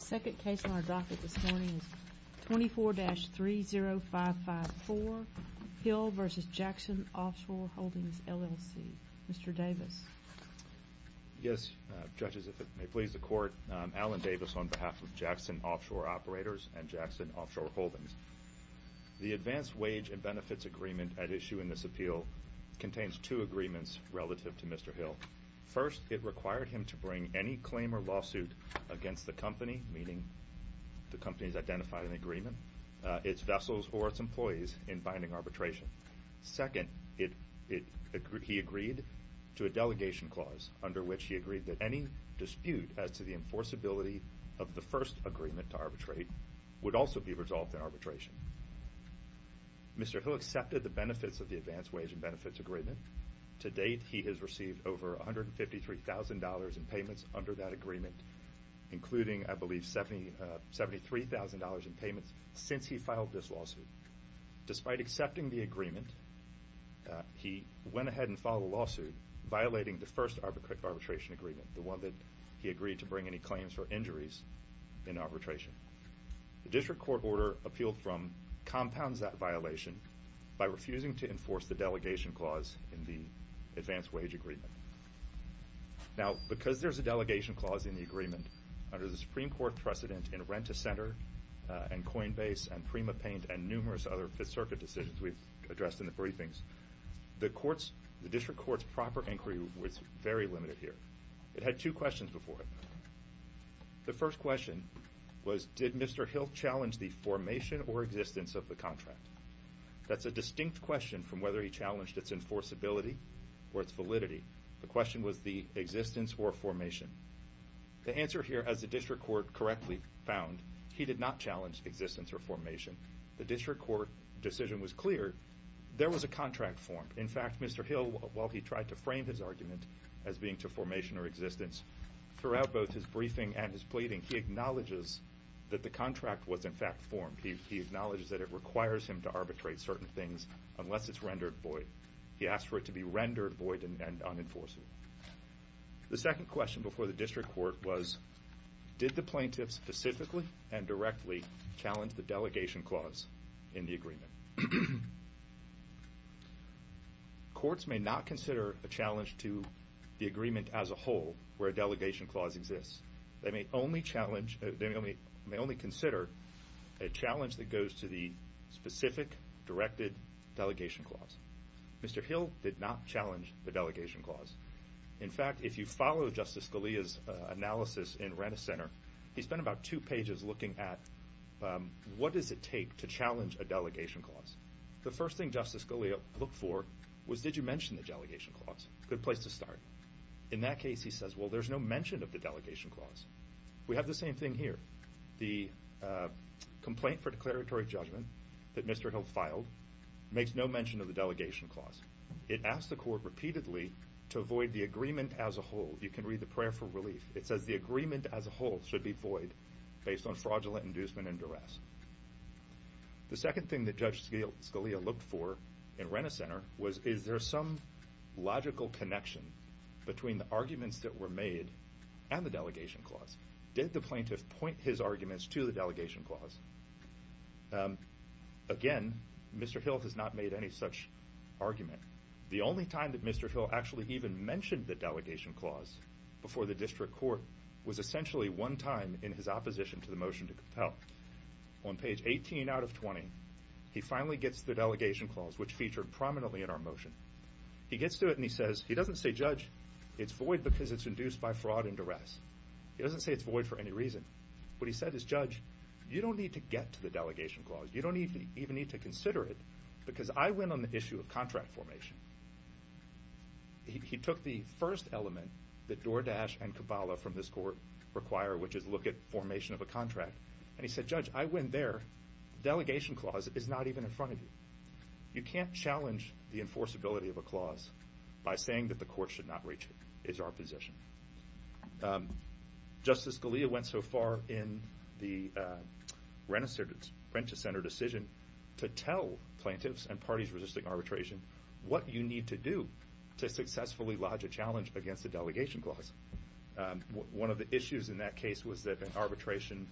The second case on our docket this morning is 24-30554, Hill v. Jackson Offshore Holdings, LLC. Mr. Davis. Yes, Judges, if it may please the Court, Alan Davis on behalf of Jackson Offshore Operators and Jackson Offshore Holdings. The advanced wage and benefits agreement at issue in this appeal contains two agreements relative to Mr. Hill. First, it required him to bring any claim or lawsuit against the company, meaning the company has identified an agreement, its vessels or its employees in binding arbitration. Second, he agreed to a delegation clause under which he agreed that any dispute as to the enforceability of the first agreement to arbitrate would also be resolved in arbitration. Mr. Hill accepted the benefits of the advanced wage and benefits agreement. To date, he has received over $153,000 in payments under that agreement, including, I believe, $73,000 in payments since he filed this lawsuit. Despite accepting the agreement, he went ahead and filed a lawsuit violating the first arbitration agreement, the one that he agreed to bring any claims for injuries in arbitration. The district court order appealed from compounds that violation by refusing to enforce the delegation clause in the advanced wage agreement. Now, because there's a delegation clause in the agreement, under the Supreme Court precedent in Rent-a-Center and Coinbase and PrimaPaint and numerous other Fifth Circuit decisions we've addressed in the briefings, the district court's proper inquiry was very limited here. It had two questions before it. The first question was, did Mr. Hill challenge the formation or existence of the contract? That's a distinct question from whether he challenged its enforceability or its validity. The question was the existence or formation. The answer here, as the district court correctly found, he did not challenge existence or formation. The district court decision was clear. There was a contract formed. In fact, Mr. Hill, while he tried to frame his argument as being to formation or existence, throughout both his briefing and his pleading, he acknowledges that the contract was in fact formed. He acknowledges that it requires him to arbitrate certain things unless it's rendered void. He asked for it to be rendered void and unenforceable. The second question before the district court was, did the plaintiff specifically and directly challenge the delegation clause in the agreement? Courts may not consider a challenge to the agreement as a whole where a delegation clause exists. They may only consider a challenge that goes to the specific directed delegation clause. Mr. Hill did not challenge the delegation clause. In fact, if you follow Justice Scalia's analysis in Rent-A-Center, he spent about two pages looking at what does it take to challenge a delegation clause. The first thing Justice Scalia looked for was did you mention the delegation clause? Good place to start. In that case, he says, well, there's no mention of the delegation clause. We have the same thing here. The complaint for declaratory judgment that Mr. Hill filed makes no mention of the delegation clause. It asks the court repeatedly to avoid the agreement as a whole. You can read the prayer for relief. It says the agreement as a whole should be void based on fraudulent inducement and duress. The second thing that Judge Scalia looked for in Rent-A-Center was, is there some logical connection between the arguments that were made and the delegation clause? Did the plaintiff point his arguments to the delegation clause? Again, Mr. Hill has not made any such argument. The only time that Mr. Hill actually even mentioned the delegation clause before the district court was essentially one time in his opposition to the motion to compel. On page 18 out of 20, he finally gets the delegation clause, which featured prominently in our motion. He gets to it and he says, he doesn't say, Judge, it's void because it's induced by fraud and duress. He doesn't say it's void for any reason. What he said is, Judge, you don't need to get to the delegation clause. You don't even need to consider it because I win on the issue of contract formation. He took the first element that Doordash and Cabala from this court require, which is look at formation of a contract, and he said, Judge, I win there. The delegation clause is not even in front of you. You can't challenge the enforceability of a clause by saying that the court should not reach it. That is our position. Justice Scalia went so far in the Renta Center decision to tell plaintiffs and parties resisting arbitration what you need to do to successfully lodge a challenge against the delegation clause. One of the issues in that case was that in arbitration,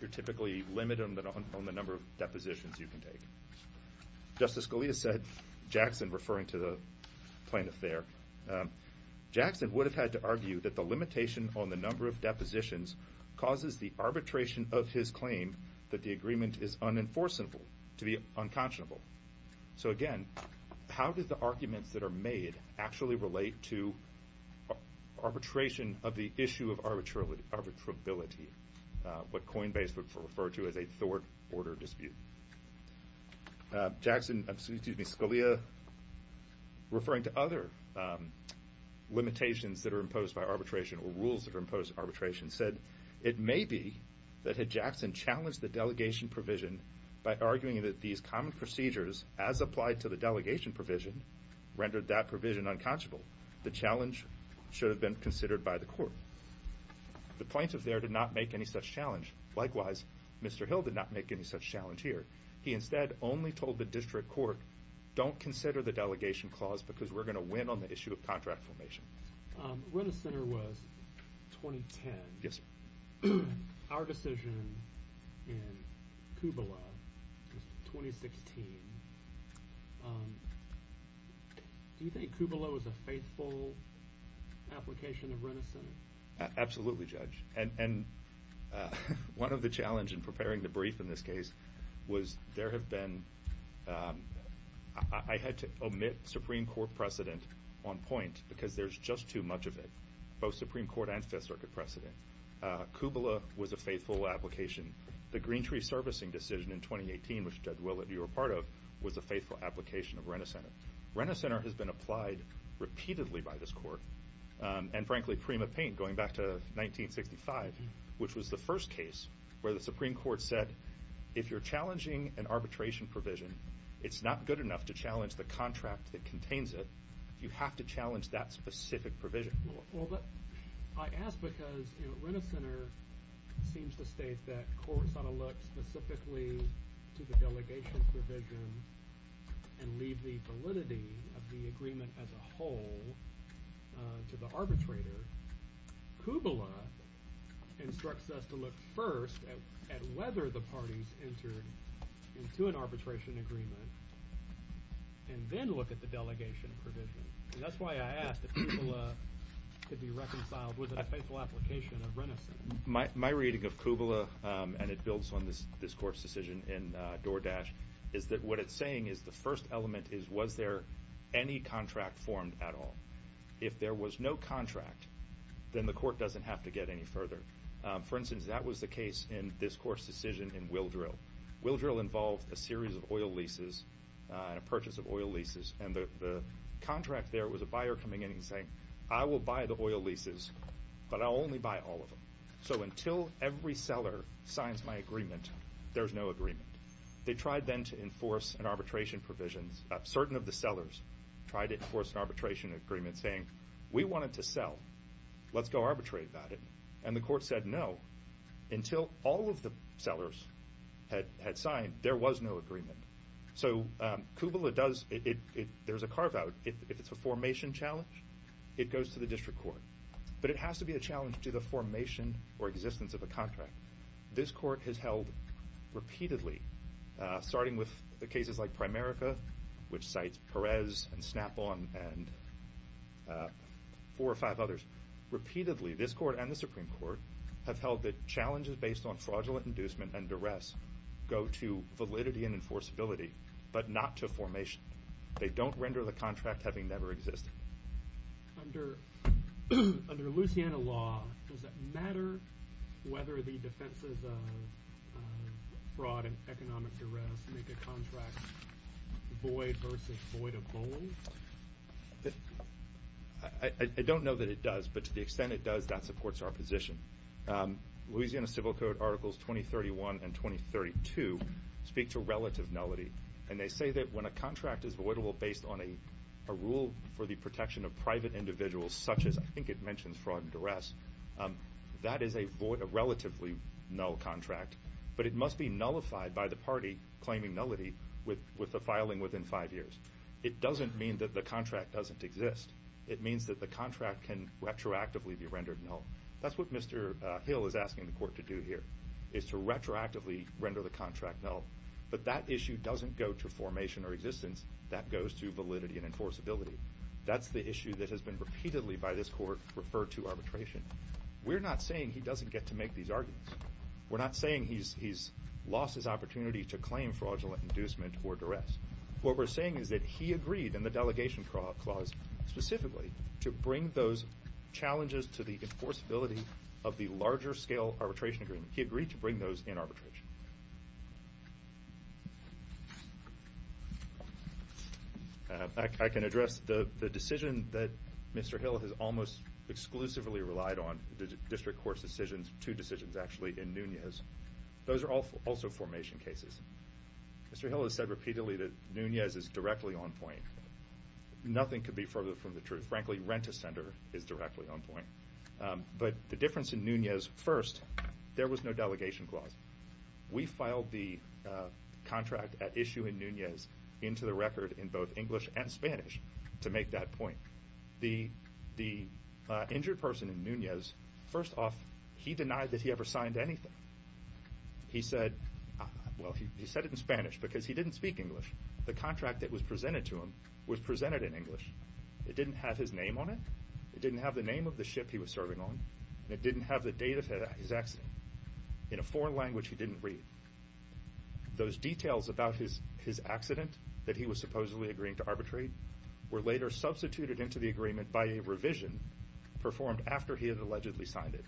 you're typically limited on the number of depositions you can take. Justice Scalia said, Jackson, referring to the plaintiff there, Jackson would have had to argue that the limitation on the number of depositions causes the arbitration of his claim that the agreement is unenforceable, to be unconscionable. So, again, how did the arguments that are made actually relate to arbitration of the issue of arbitrability, what Coinbase would refer to as a thwart order dispute? Scalia, referring to other limitations that are imposed by arbitration or rules that are imposed by arbitration, said it may be that had Jackson challenged the delegation provision by arguing that these common procedures, as applied to the delegation provision, rendered that provision unconscionable, the challenge should have been considered by the court. The plaintiff there did not make any such challenge. Likewise, Mr. Hill did not make any such challenge here. He instead only told the district court, don't consider the delegation clause because we're going to win on the issue of contract formation. Rent-a-Center was 2010. Yes, sir. Our decision in Kublai was 2016. Do you think Kublai was a faithful application of Rent-a-Center? Absolutely, Judge. And one of the challenges in preparing the brief in this case was there have been – I had to omit Supreme Court precedent on point because there's just too much of it, both Supreme Court and Fifth Circuit precedent. Kublai was a faithful application. The Greentree servicing decision in 2018, which, Judge Willett, you were part of, was a faithful application of Rent-a-Center. Rent-a-Center has been applied repeatedly by this court and, frankly, Prima Paint going back to 1965, which was the first case where the Supreme Court said if you're challenging an arbitration provision, it's not good enough to challenge the contract that contains it. You have to challenge that specific provision. Well, but I ask because, you know, Rent-a-Center seems to state that courts ought to look specifically to the delegation provision and leave the validity of the agreement as a whole to the arbitrator. Kublai instructs us to look first at whether the parties entered into an arbitration agreement and then look at the delegation provision. And that's why I asked if Kublai could be reconciled with a faithful application of Rent-a-Center. My reading of Kublai, and it builds on this court's decision in DoorDash, is that what it's saying is the first element is was there any contract formed at all. If there was no contract, then the court doesn't have to get any further. For instance, that was the case in this court's decision in Willdrill. Willdrill involved a series of oil leases and a purchase of oil leases, and the contract there was a buyer coming in and saying, I will buy the oil leases, but I'll only buy all of them. So until every seller signs my agreement, there's no agreement. They tried then to enforce an arbitration provision. Certain of the sellers tried to enforce an arbitration agreement saying, we want it to sell. Let's go arbitrate about it. And the court said no. Until all of the sellers had signed, there was no agreement. So Kublai does, there's a carve-out. If it's a formation challenge, it goes to the district court. But it has to be a challenge to the formation or existence of a contract. This court has held repeatedly, starting with the cases like Primerica, which cites Perez and Snapple and four or five others. Repeatedly, this court and the Supreme Court have held that challenges based on fraudulent inducement and duress go to validity and enforceability, but not to formation. They don't render the contract having never existed. Under Louisiana law, does it matter whether the defenses of fraud and economic duress make a contract void versus void of bold? I don't know that it does, but to the extent it does, that supports our position. Louisiana Civil Code Articles 2031 and 2032 speak to relative nullity, and they say that when a contract is voidable based on a rule for the protection of private individuals, such as I think it mentions fraud and duress, that is a relatively null contract. But it must be nullified by the party claiming nullity with the filing within five years. It doesn't mean that the contract doesn't exist. It means that the contract can retroactively be rendered null. That's what Mr. Hill is asking the court to do here, is to retroactively render the contract null. But that issue doesn't go to formation or existence. That goes to validity and enforceability. That's the issue that has been repeatedly by this court referred to arbitration. We're not saying he doesn't get to make these arguments. We're not saying he's lost his opportunity to claim fraudulent inducement or duress. What we're saying is that he agreed in the delegation clause specifically to bring those challenges to the enforceability of the larger-scale arbitration agreement. He agreed to bring those in arbitration. I can address the decision that Mr. Hill has almost exclusively relied on, the district court's decisions, two decisions actually, in Nunez. Those are also formation cases. Mr. Hill has said repeatedly that Nunez is directly on point. Nothing could be further from the truth. Frankly, Rent-A-Sender is directly on point. But the difference in Nunez, first, there was no delegation clause. We filed the contract at issue in Nunez into the record in both English and Spanish to make that point. The injured person in Nunez, first off, he denied that he ever signed anything. He said it in Spanish because he didn't speak English. The contract that was presented to him was presented in English. It didn't have his name on it. It didn't have the name of the ship he was serving on. It didn't have the date of his accident. In a foreign language, he didn't read. Those details about his accident that he was supposedly agreeing to arbitrate were later substituted into the agreement by a revision performed after he had allegedly signed it.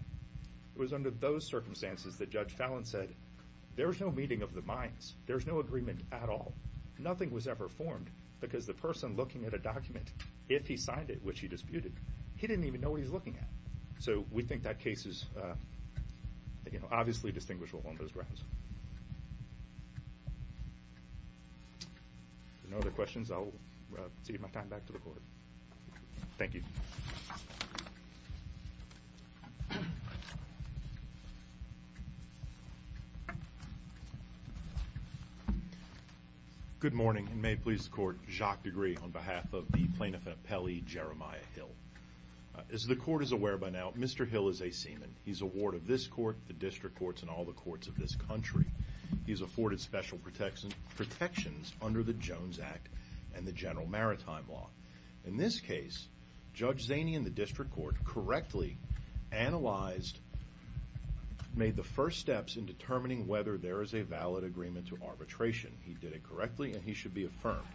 It was under those circumstances that Judge Fallon said, there's no meeting of the minds. There's no agreement at all. Nothing was ever formed because the person looking at a document, if he signed it, which he disputed, he didn't even know what he was looking at. So we think that case is obviously distinguishable on those grounds. If there are no other questions, I will cede my time back to the Court. Thank you. Good morning, and may it please the Court, Jacques Degree on behalf of the Plaintiff-Appellee Jeremiah Hill. As the Court is aware by now, Mr. Hill is a seaman. He's a ward of this Court, the district courts, and all the courts of this country. He's afforded special protections under the Jones Act and the General Maritime Law. In this case, Judge Zaney and the district court correctly analyzed, made the first steps in determining whether there is a valid agreement to arbitration. He did it correctly, and he should be affirmed.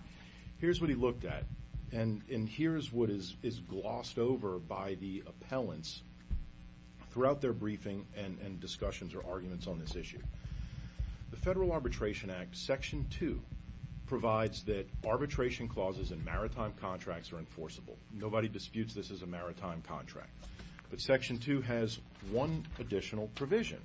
Here's what he looked at, and here's what is glossed over by the appellants throughout their briefing and discussions or arguments on this issue. The Federal Arbitration Act, Section 2, provides that arbitration clauses in maritime contracts are enforceable. Nobody disputes this is a maritime contract, but Section 2 has one additional provision.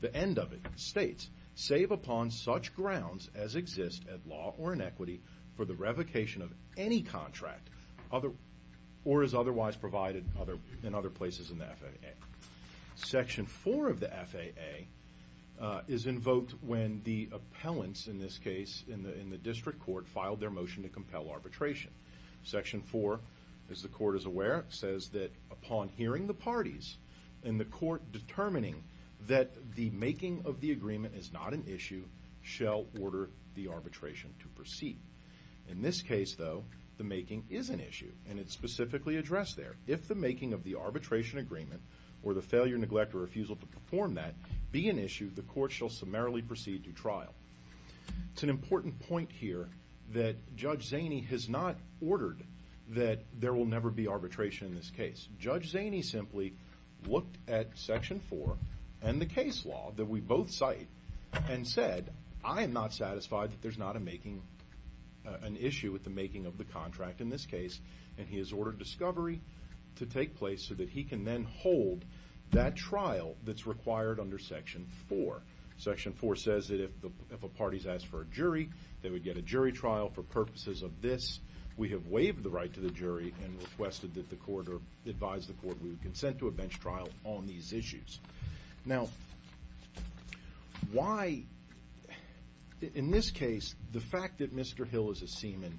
The end of it states, save upon such grounds as exist at law or in equity for the revocation of any contract or is otherwise provided in other places in the FAA. Section 4 of the FAA is invoked when the appellants, in this case in the district court, filed their motion to compel arbitration. Section 4, as the Court is aware, says that upon hearing the parties and the Court determining that the making of the agreement is not an issue, shall order the arbitration to proceed. In this case, though, the making is an issue, and it's specifically addressed there. If the making of the arbitration agreement or the failure, neglect, or refusal to perform that be an issue, the Court shall summarily proceed to trial. It's an important point here that Judge Zaney has not ordered that there will never be arbitration in this case. Judge Zaney simply looked at Section 4 and the case law that we both cite and said, I am not satisfied that there's not an issue with the making of the contract in this case, and he has ordered discovery to take place so that he can then hold that trial that's required under Section 4. Section 4 says that if the parties ask for a jury, they would get a jury trial. For purposes of this, we have waived the right to the jury and requested that the Court or advised the Court we would consent to a bench trial on these issues. Now, why in this case the fact that Mr. Hill is a seaman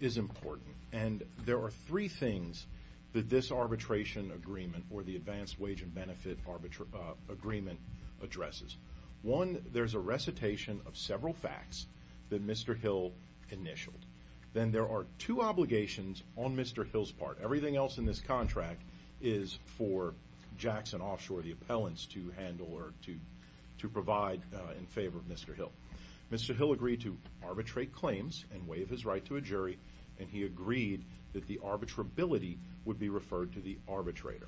is important, and there are three things that this arbitration agreement or the advanced wage and benefit agreement addresses. One, there's a recitation of several facts that Mr. Hill initialed. Then there are two obligations on Mr. Hill's part. Everything else in this contract is for Jackson Offshore, the appellants, to handle or to provide in favor of Mr. Hill. Mr. Hill agreed to arbitrate claims and waive his right to a jury, and he agreed that the arbitrability would be referred to the arbitrator.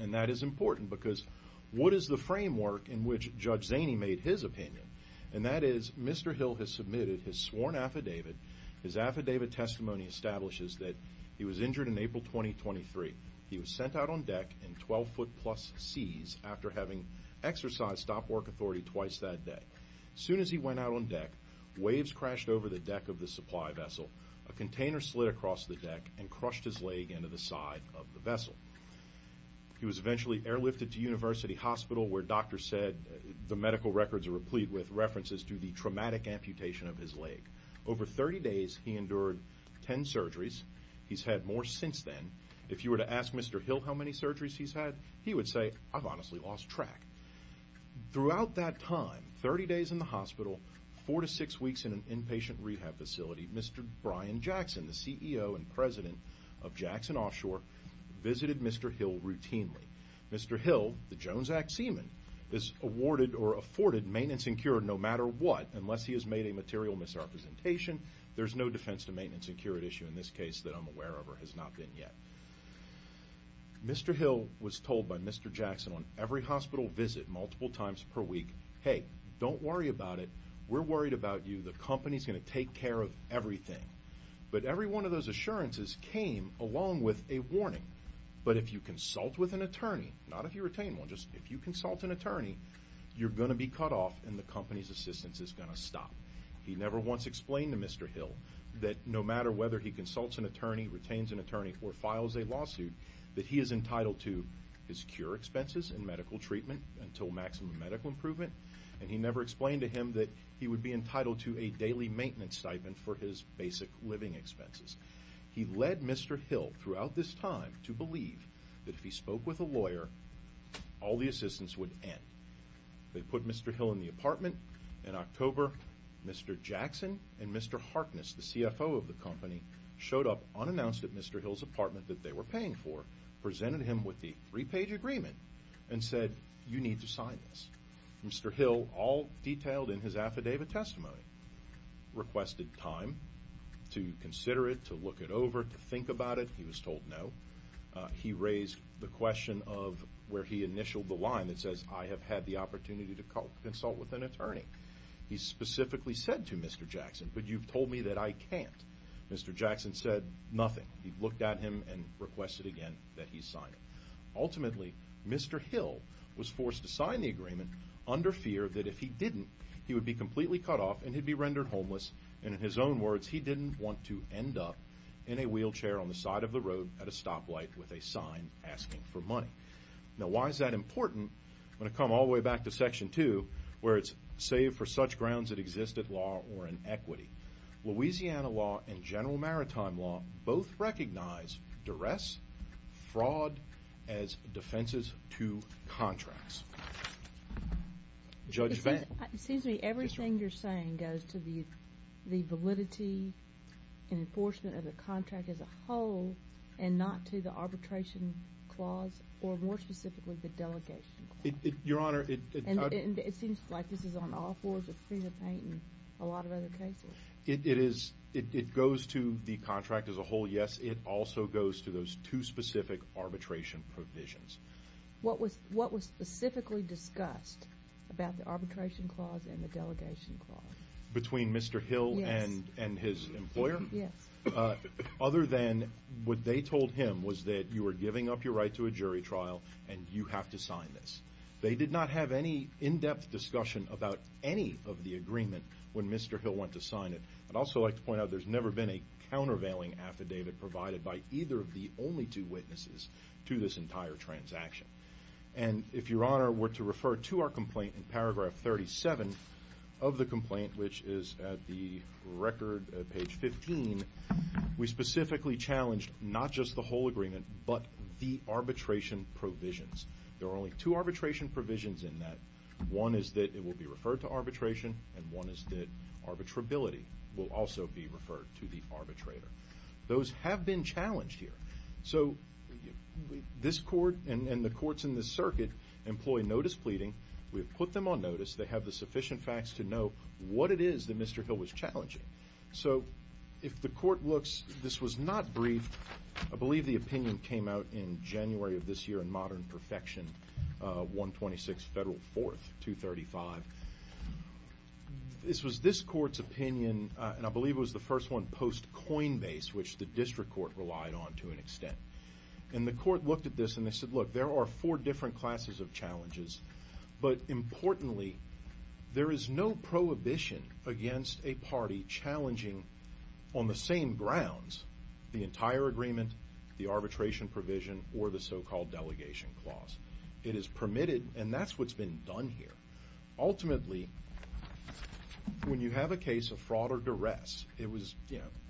And that is important because what is the framework in which Judge Zaney made his opinion? And that is Mr. Hill has submitted his sworn affidavit. His affidavit testimony establishes that he was injured in April 2023. He was sent out on deck in 12-foot-plus seas after having exercised stop-work authority twice that day. As soon as he went out on deck, waves crashed over the deck of the supply vessel. A container slid across the deck and crushed his leg into the side of the vessel. He was eventually airlifted to University Hospital, where doctors said the medical records are replete with references to the traumatic amputation of his leg. Over 30 days, he endured 10 surgeries. He's had more since then. If you were to ask Mr. Hill how many surgeries he's had, he would say, I've honestly lost track. Throughout that time, 30 days in the hospital, 4 to 6 weeks in an inpatient rehab facility, Mr. Brian Jackson, the CEO and president of Jackson Offshore, visited Mr. Hill routinely. Mr. Hill, the Jones Act seaman, is awarded or afforded maintenance and cure no matter what unless he has made a material misrepresentation. There's no defense to maintenance and cure at issue in this case that I'm aware of or has not been yet. Mr. Hill was told by Mr. Jackson on every hospital visit multiple times per week, hey, don't worry about it. We're worried about you. The company's going to take care of everything. But every one of those assurances came along with a warning. But if you consult with an attorney, not if you retain one, just if you consult an attorney, you're going to be cut off and the company's assistance is going to stop. He never once explained to Mr. Hill that no matter whether he consults an attorney, retains an attorney, or files a lawsuit, that he is entitled to his cure expenses and medical treatment until maximum medical improvement, and he never explained to him that he would be entitled to a daily maintenance stipend for his basic living expenses. He led Mr. Hill throughout this time to believe that if he spoke with a lawyer, all the assistance would end. They put Mr. Hill in the apartment. In October, Mr. Jackson and Mr. Harkness, the CFO of the company, showed up unannounced at Mr. Hill's apartment that they were paying for, presented him with the three-page agreement, and said, you need to sign this. Mr. Hill, all detailed in his affidavit testimony, requested time to consider it, to look it over, to think about it. He was told no. He raised the question of where he initialed the line that says, I have had the opportunity to consult with an attorney. He specifically said to Mr. Jackson, but you've told me that I can't. Mr. Jackson said nothing. He looked at him and requested again that he sign it. Ultimately, Mr. Hill was forced to sign the agreement under fear that if he didn't, he would be completely cut off and he'd be rendered homeless, and in his own words, he didn't want to end up in a wheelchair on the side of the road at a stoplight with a sign asking for money. Now, why is that important? I'm going to come all the way back to Section 2, where it's save for such grounds that exist at law or in equity. Louisiana law and general maritime law both recognize duress, fraud, as defenses to contracts. Judge Vann. Excuse me. Everything you're saying goes to the validity and enforcement of the contract as a whole and not to the arbitration clause or, more specifically, the delegation clause? Your Honor, it And it seems like this is on all fours. It's free to paint in a lot of other cases. It is. It goes to the contract as a whole, yes. It also goes to those two specific arbitration provisions. What was specifically discussed about the arbitration clause and the delegation clause? Between Mr. Hill and his employer? Yes. Other than what they told him was that you were giving up your right to a jury trial and you have to sign this. They did not have any in-depth discussion about any of the agreement when Mr. Hill went to sign it. I'd also like to point out there's never been a countervailing affidavit provided by either of the only two witnesses to this entire transaction. And if Your Honor were to refer to our complaint in paragraph 37 of the complaint, which is at the record at page 15, we specifically challenged not just the whole agreement but the arbitration provisions. There are only two arbitration provisions in that. One is that it will be referred to arbitration, and one is that arbitrability will also be referred to the arbitrator. Those have been challenged here. So this court and the courts in this circuit employ notice pleading. We have put them on notice. They have the sufficient facts to know what it is that Mr. Hill was challenging. So if the court looks, this was not briefed. I believe the opinion came out in January of this year in Modern Perfection, 126 Federal 4th, 235. This was this court's opinion, and I believe it was the first one post-Coinbase, which the district court relied on to an extent. And the court looked at this and they said, look, there are four different classes of challenges, but importantly there is no prohibition against a party challenging on the same grounds the entire agreement, the arbitration provision, or the so-called delegation clause. It is permitted, and that's what's been done here. Ultimately, when you have a case of fraud or duress, it was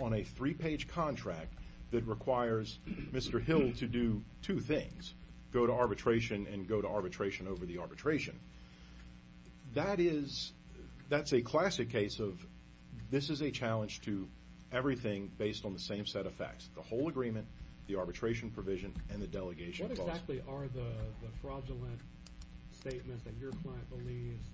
on a three-page contract that requires Mr. Hill to do two things, go to arbitration and go to arbitration over the arbitration. That's a classic case of this is a challenge to everything based on the same set of facts, the whole agreement, the arbitration provision, and the delegation clause. What exactly are the fraudulent statements that your client believes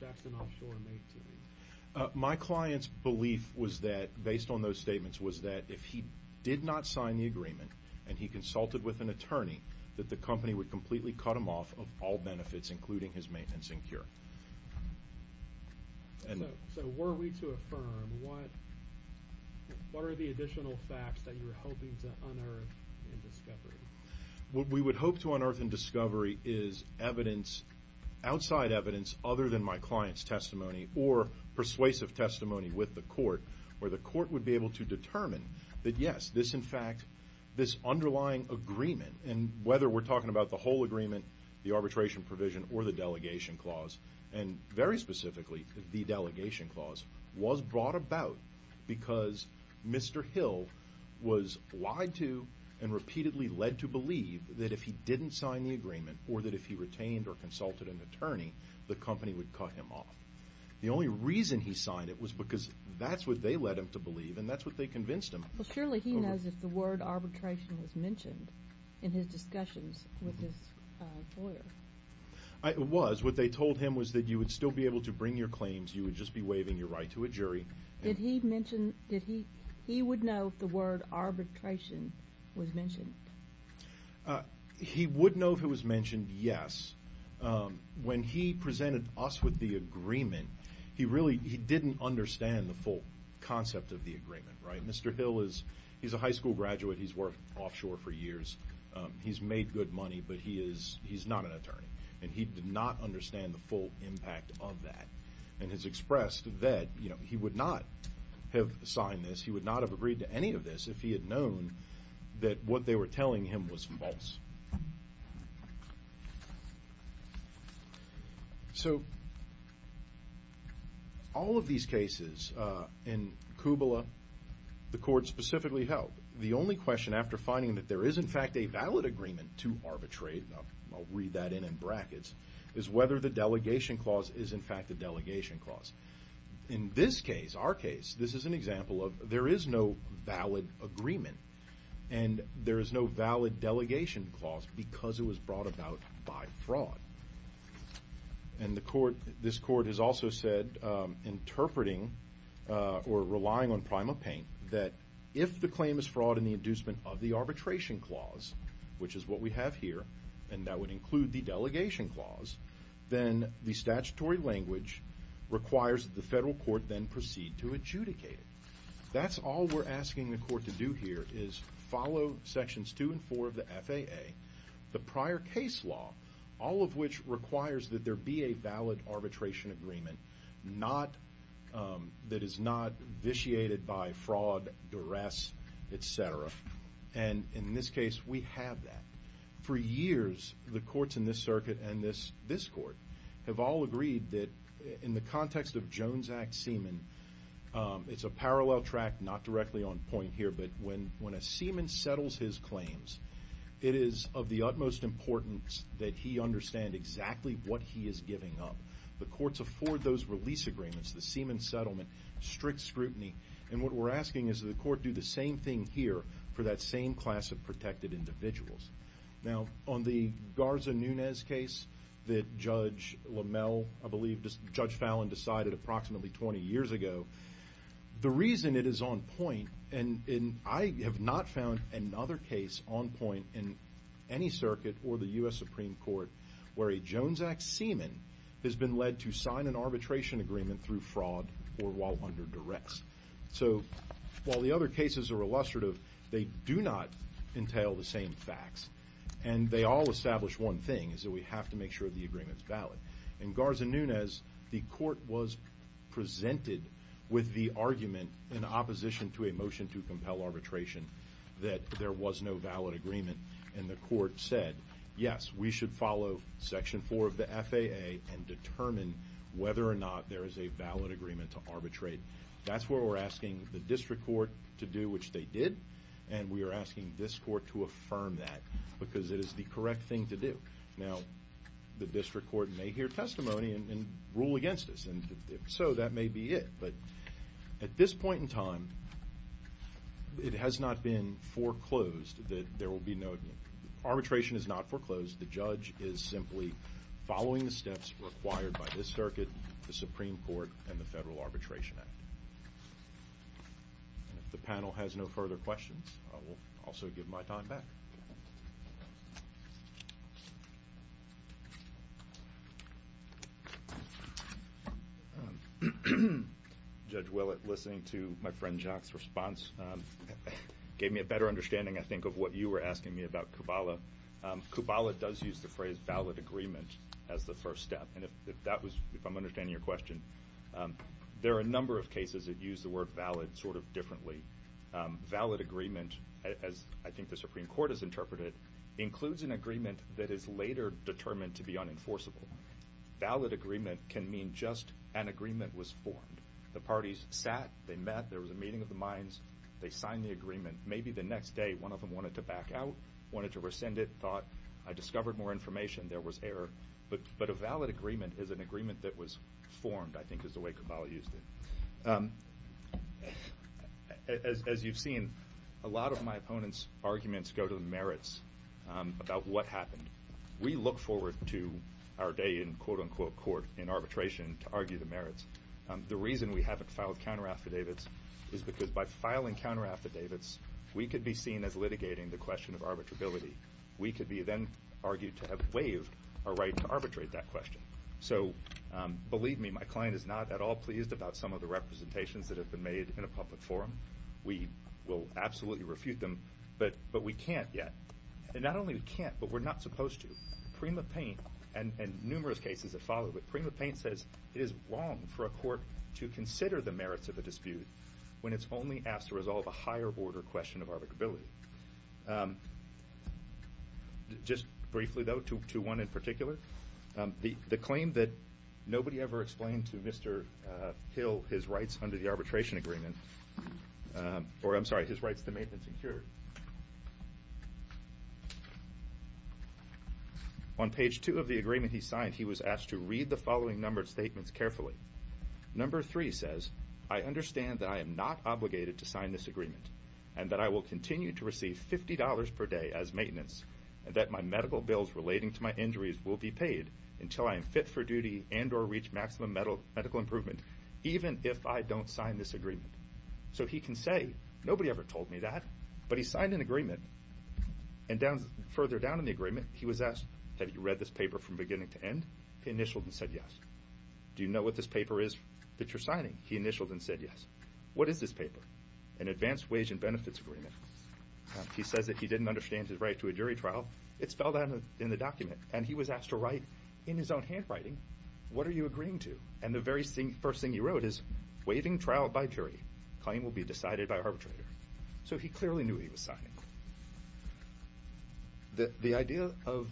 Jackson Offshore made to you? My client's belief was that, based on those statements, was that if he did not sign the agreement and he consulted with an attorney, that the company would completely cut him off of all benefits, including his maintenance and cure. So were we to affirm, what are the additional facts that you're hoping to unearth in discovery? What we would hope to unearth in discovery is evidence, outside evidence, other than my client's testimony or persuasive testimony with the court, where the court would be able to determine that, yes, this, in fact, this underlying agreement, and whether we're talking about the whole agreement, the arbitration provision, or the delegation clause, and very specifically the delegation clause, was brought about because Mr. Hill was lied to and repeatedly led to believe that if he didn't sign the agreement or that if he retained or consulted an attorney, the company would cut him off. The only reason he signed it was because that's what they led him to believe, and that's what they convinced him. Well, surely he knows if the word arbitration was mentioned in his discussions with his lawyer. It was. What they told him was that you would still be able to bring your claims. You would just be waiving your right to a jury. Did he mention, did he, he would know if the word arbitration was mentioned? He would know if it was mentioned, yes. When he presented us with the agreement, he really, he didn't understand the full concept of the agreement, right? Mr. Hill is, he's a high school graduate. He's worked offshore for years. He's made good money, but he is, he's not an attorney, and he did not understand the full impact of that. And has expressed that, you know, he would not have signed this, he would not have agreed to any of this if he had known that what they were telling him was false. So all of these cases in Kubla, the court specifically held, the only question after finding that there is, in fact, a valid agreement to arbitrate, I'll read that in in brackets, is whether the delegation clause is, in fact, a delegation clause. In this case, our case, this is an example of, there is no valid agreement, and there is no valid delegation clause because it was brought about by fraud. And the court, this court has also said, interpreting or relying on prima paint, that if the claim is fraud in the inducement of the arbitration clause, which is what we have here, and that would include the delegation clause, then the statutory language requires that the federal court then proceed to adjudicate it. That's all we're asking the court to do here is follow sections two and four of the FAA, the prior case law, all of which requires that there be a valid arbitration agreement, that is not vitiated by fraud, duress, et cetera. And in this case, we have that. For years, the courts in this circuit and this court have all agreed that in the context of Jones Act semen, it's a parallel track, not directly on point here, but when a semen settles his claims, it is of the utmost importance that he understand exactly what he is giving up. The courts afford those release agreements, the semen settlement, strict scrutiny, and what we're asking is that the court do the same thing here for that same class of protected individuals. Now, on the Garza-Nunez case that Judge LaMelle, I believe, Judge Fallon decided approximately 20 years ago, the reason it is on point, and I have not found another case on point in any circuit or the U.S. Supreme Court where a Jones Act semen has been led to sign an arbitration agreement through fraud or while under duress. So while the other cases are illustrative, they do not entail the same facts, and they all establish one thing is that we have to make sure the agreement is valid. In Garza-Nunez, the court was presented with the argument in opposition to a motion to compel arbitration that there was no valid agreement, and the court said, yes, we should follow Section 4 of the FAA and determine whether or not there is a valid agreement to arbitrate. That's where we're asking the district court to do which they did, and we are asking this court to affirm that because it is the correct thing to do. Now, the district court may hear testimony and rule against us, and if so, that may be it. But at this point in time, it has not been foreclosed that there will be no agreement. Arbitration is not foreclosed. The judge is simply following the steps required by this circuit, the Supreme Court, and the Federal Arbitration Act. If the panel has no further questions, I will also give my time back. Judge Willett, listening to my friend Jacques' response gave me a better understanding, I think, of what you were asking me about Kubala. Kubala does use the phrase valid agreement as the first step, and if I'm understanding your question, there are a number of cases that use the word valid sort of differently. Valid agreement, as I think the Supreme Court has interpreted, includes an agreement that is later determined to be unenforceable. Valid agreement can mean just an agreement was formed. The parties sat, they met, there was a meeting of the minds, they signed the agreement. Maybe the next day, one of them wanted to back out, wanted to rescind it, thought, I discovered more information, there was error. But a valid agreement is an agreement that was formed, I think is the way Kubala used it. As you've seen, a lot of my opponents' arguments go to the merits about what happened. We look forward to our day in quote-unquote court in arbitration to argue the merits. The reason we haven't filed counteraffidavits is because by filing counteraffidavits, we could be seen as litigating the question of arbitrability. We could be then argued to have waived our right to arbitrate that question. So believe me, my client is not at all pleased about some of the representations that have been made in a public forum. We will absolutely refute them, but we can't yet. And not only we can't, but we're not supposed to. Prima Paint, and numerous cases have followed, but Prima Paint says it is wrong for a court to consider the merits of a dispute when it's only asked to resolve a higher-order question of arbitrability. Just briefly, though, to one in particular, the claim that nobody ever explained to Mr. Hill his rights under the arbitration agreement or, I'm sorry, his rights to maintenance and cure. On page two of the agreement he signed, he was asked to read the following numbered statements carefully. Number three says, I understand that I am not obligated to sign this agreement and that I will continue to receive $50 per day as maintenance and that my medical bills relating to my injuries will be paid until I am fit for duty and or reach maximum medical improvement, even if I don't sign this agreement. So he can say, nobody ever told me that. But he signed an agreement, and further down in the agreement, he was asked, have you read this paper from beginning to end? He initialed and said yes. Do you know what this paper is that you're signing? He initialed and said yes. What is this paper? An advanced wage and benefits agreement. He says that he didn't understand his right to a jury trial. It's spelled out in the document, and he was asked to write in his own handwriting, what are you agreeing to? And the very first thing he wrote is, waiving trial by jury, claim will be decided by arbitrator. So he clearly knew he was signing. The idea of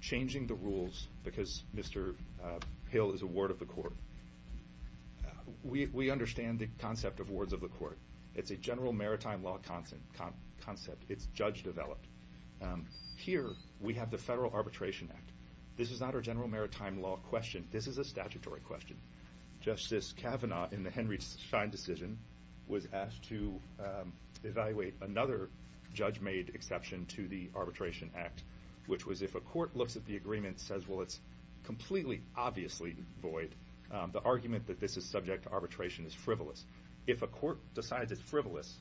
changing the rules because Mr. Hill is a ward of the court, we understand the concept of wards of the court. It's a general maritime law concept. It's judge-developed. Here we have the Federal Arbitration Act. This is not a general maritime law question. This is a statutory question. Justice Kavanaugh, in the Henry Schein decision, was asked to evaluate another judge-made exception to the Arbitration Act, which was if a court looks at the agreement and says, well, it's completely obviously void, the argument that this is subject to arbitration is frivolous. If a court decides it's frivolous,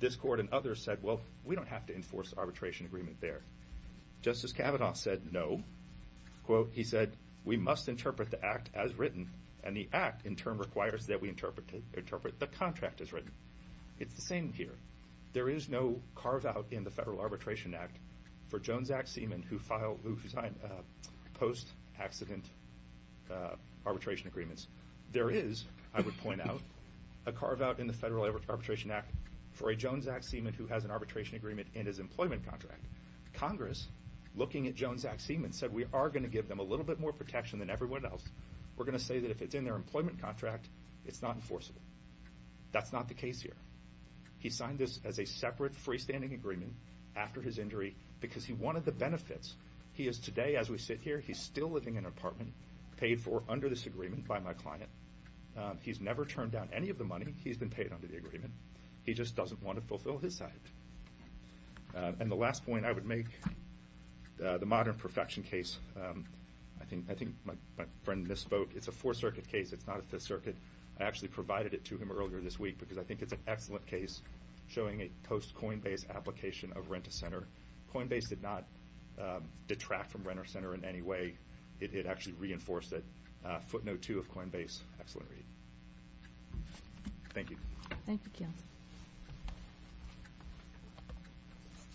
this court and others said, well, we don't have to enforce the arbitration agreement there. Justice Kavanaugh said no. Quote, he said, we must interpret the act as written, and the act in turn requires that we interpret the contract as written. It's the same here. There is no carve-out in the Federal Arbitration Act for Jones Act seaman who signed post-accident arbitration agreements. There is, I would point out, a carve-out in the Federal Arbitration Act for a Jones Act seaman who has an arbitration agreement in his employment contract. Congress, looking at Jones Act seaman, said, we are going to give them a little bit more protection than everyone else. We're going to say that if it's in their employment contract, it's not enforceable. That's not the case here. He signed this as a separate freestanding agreement after his injury because he wanted the benefits. He is today, as we sit here, he's still living in an apartment paid for under this agreement by my client. He's never turned down any of the money. He's been paid under the agreement. He just doesn't want to fulfill his side. And the last point I would make, the Modern Perfection case. I think my friend misspoke. It's a Fourth Circuit case. It's not a Fifth Circuit. I actually provided it to him earlier this week because I think it's an excellent case showing a post-Coinbase application of rent-a-center. Coinbase did not detract from rent-a-center in any way. It actually reinforced it. Footnote 2 of Coinbase, excellent read. Thank you. Thank you, Keith.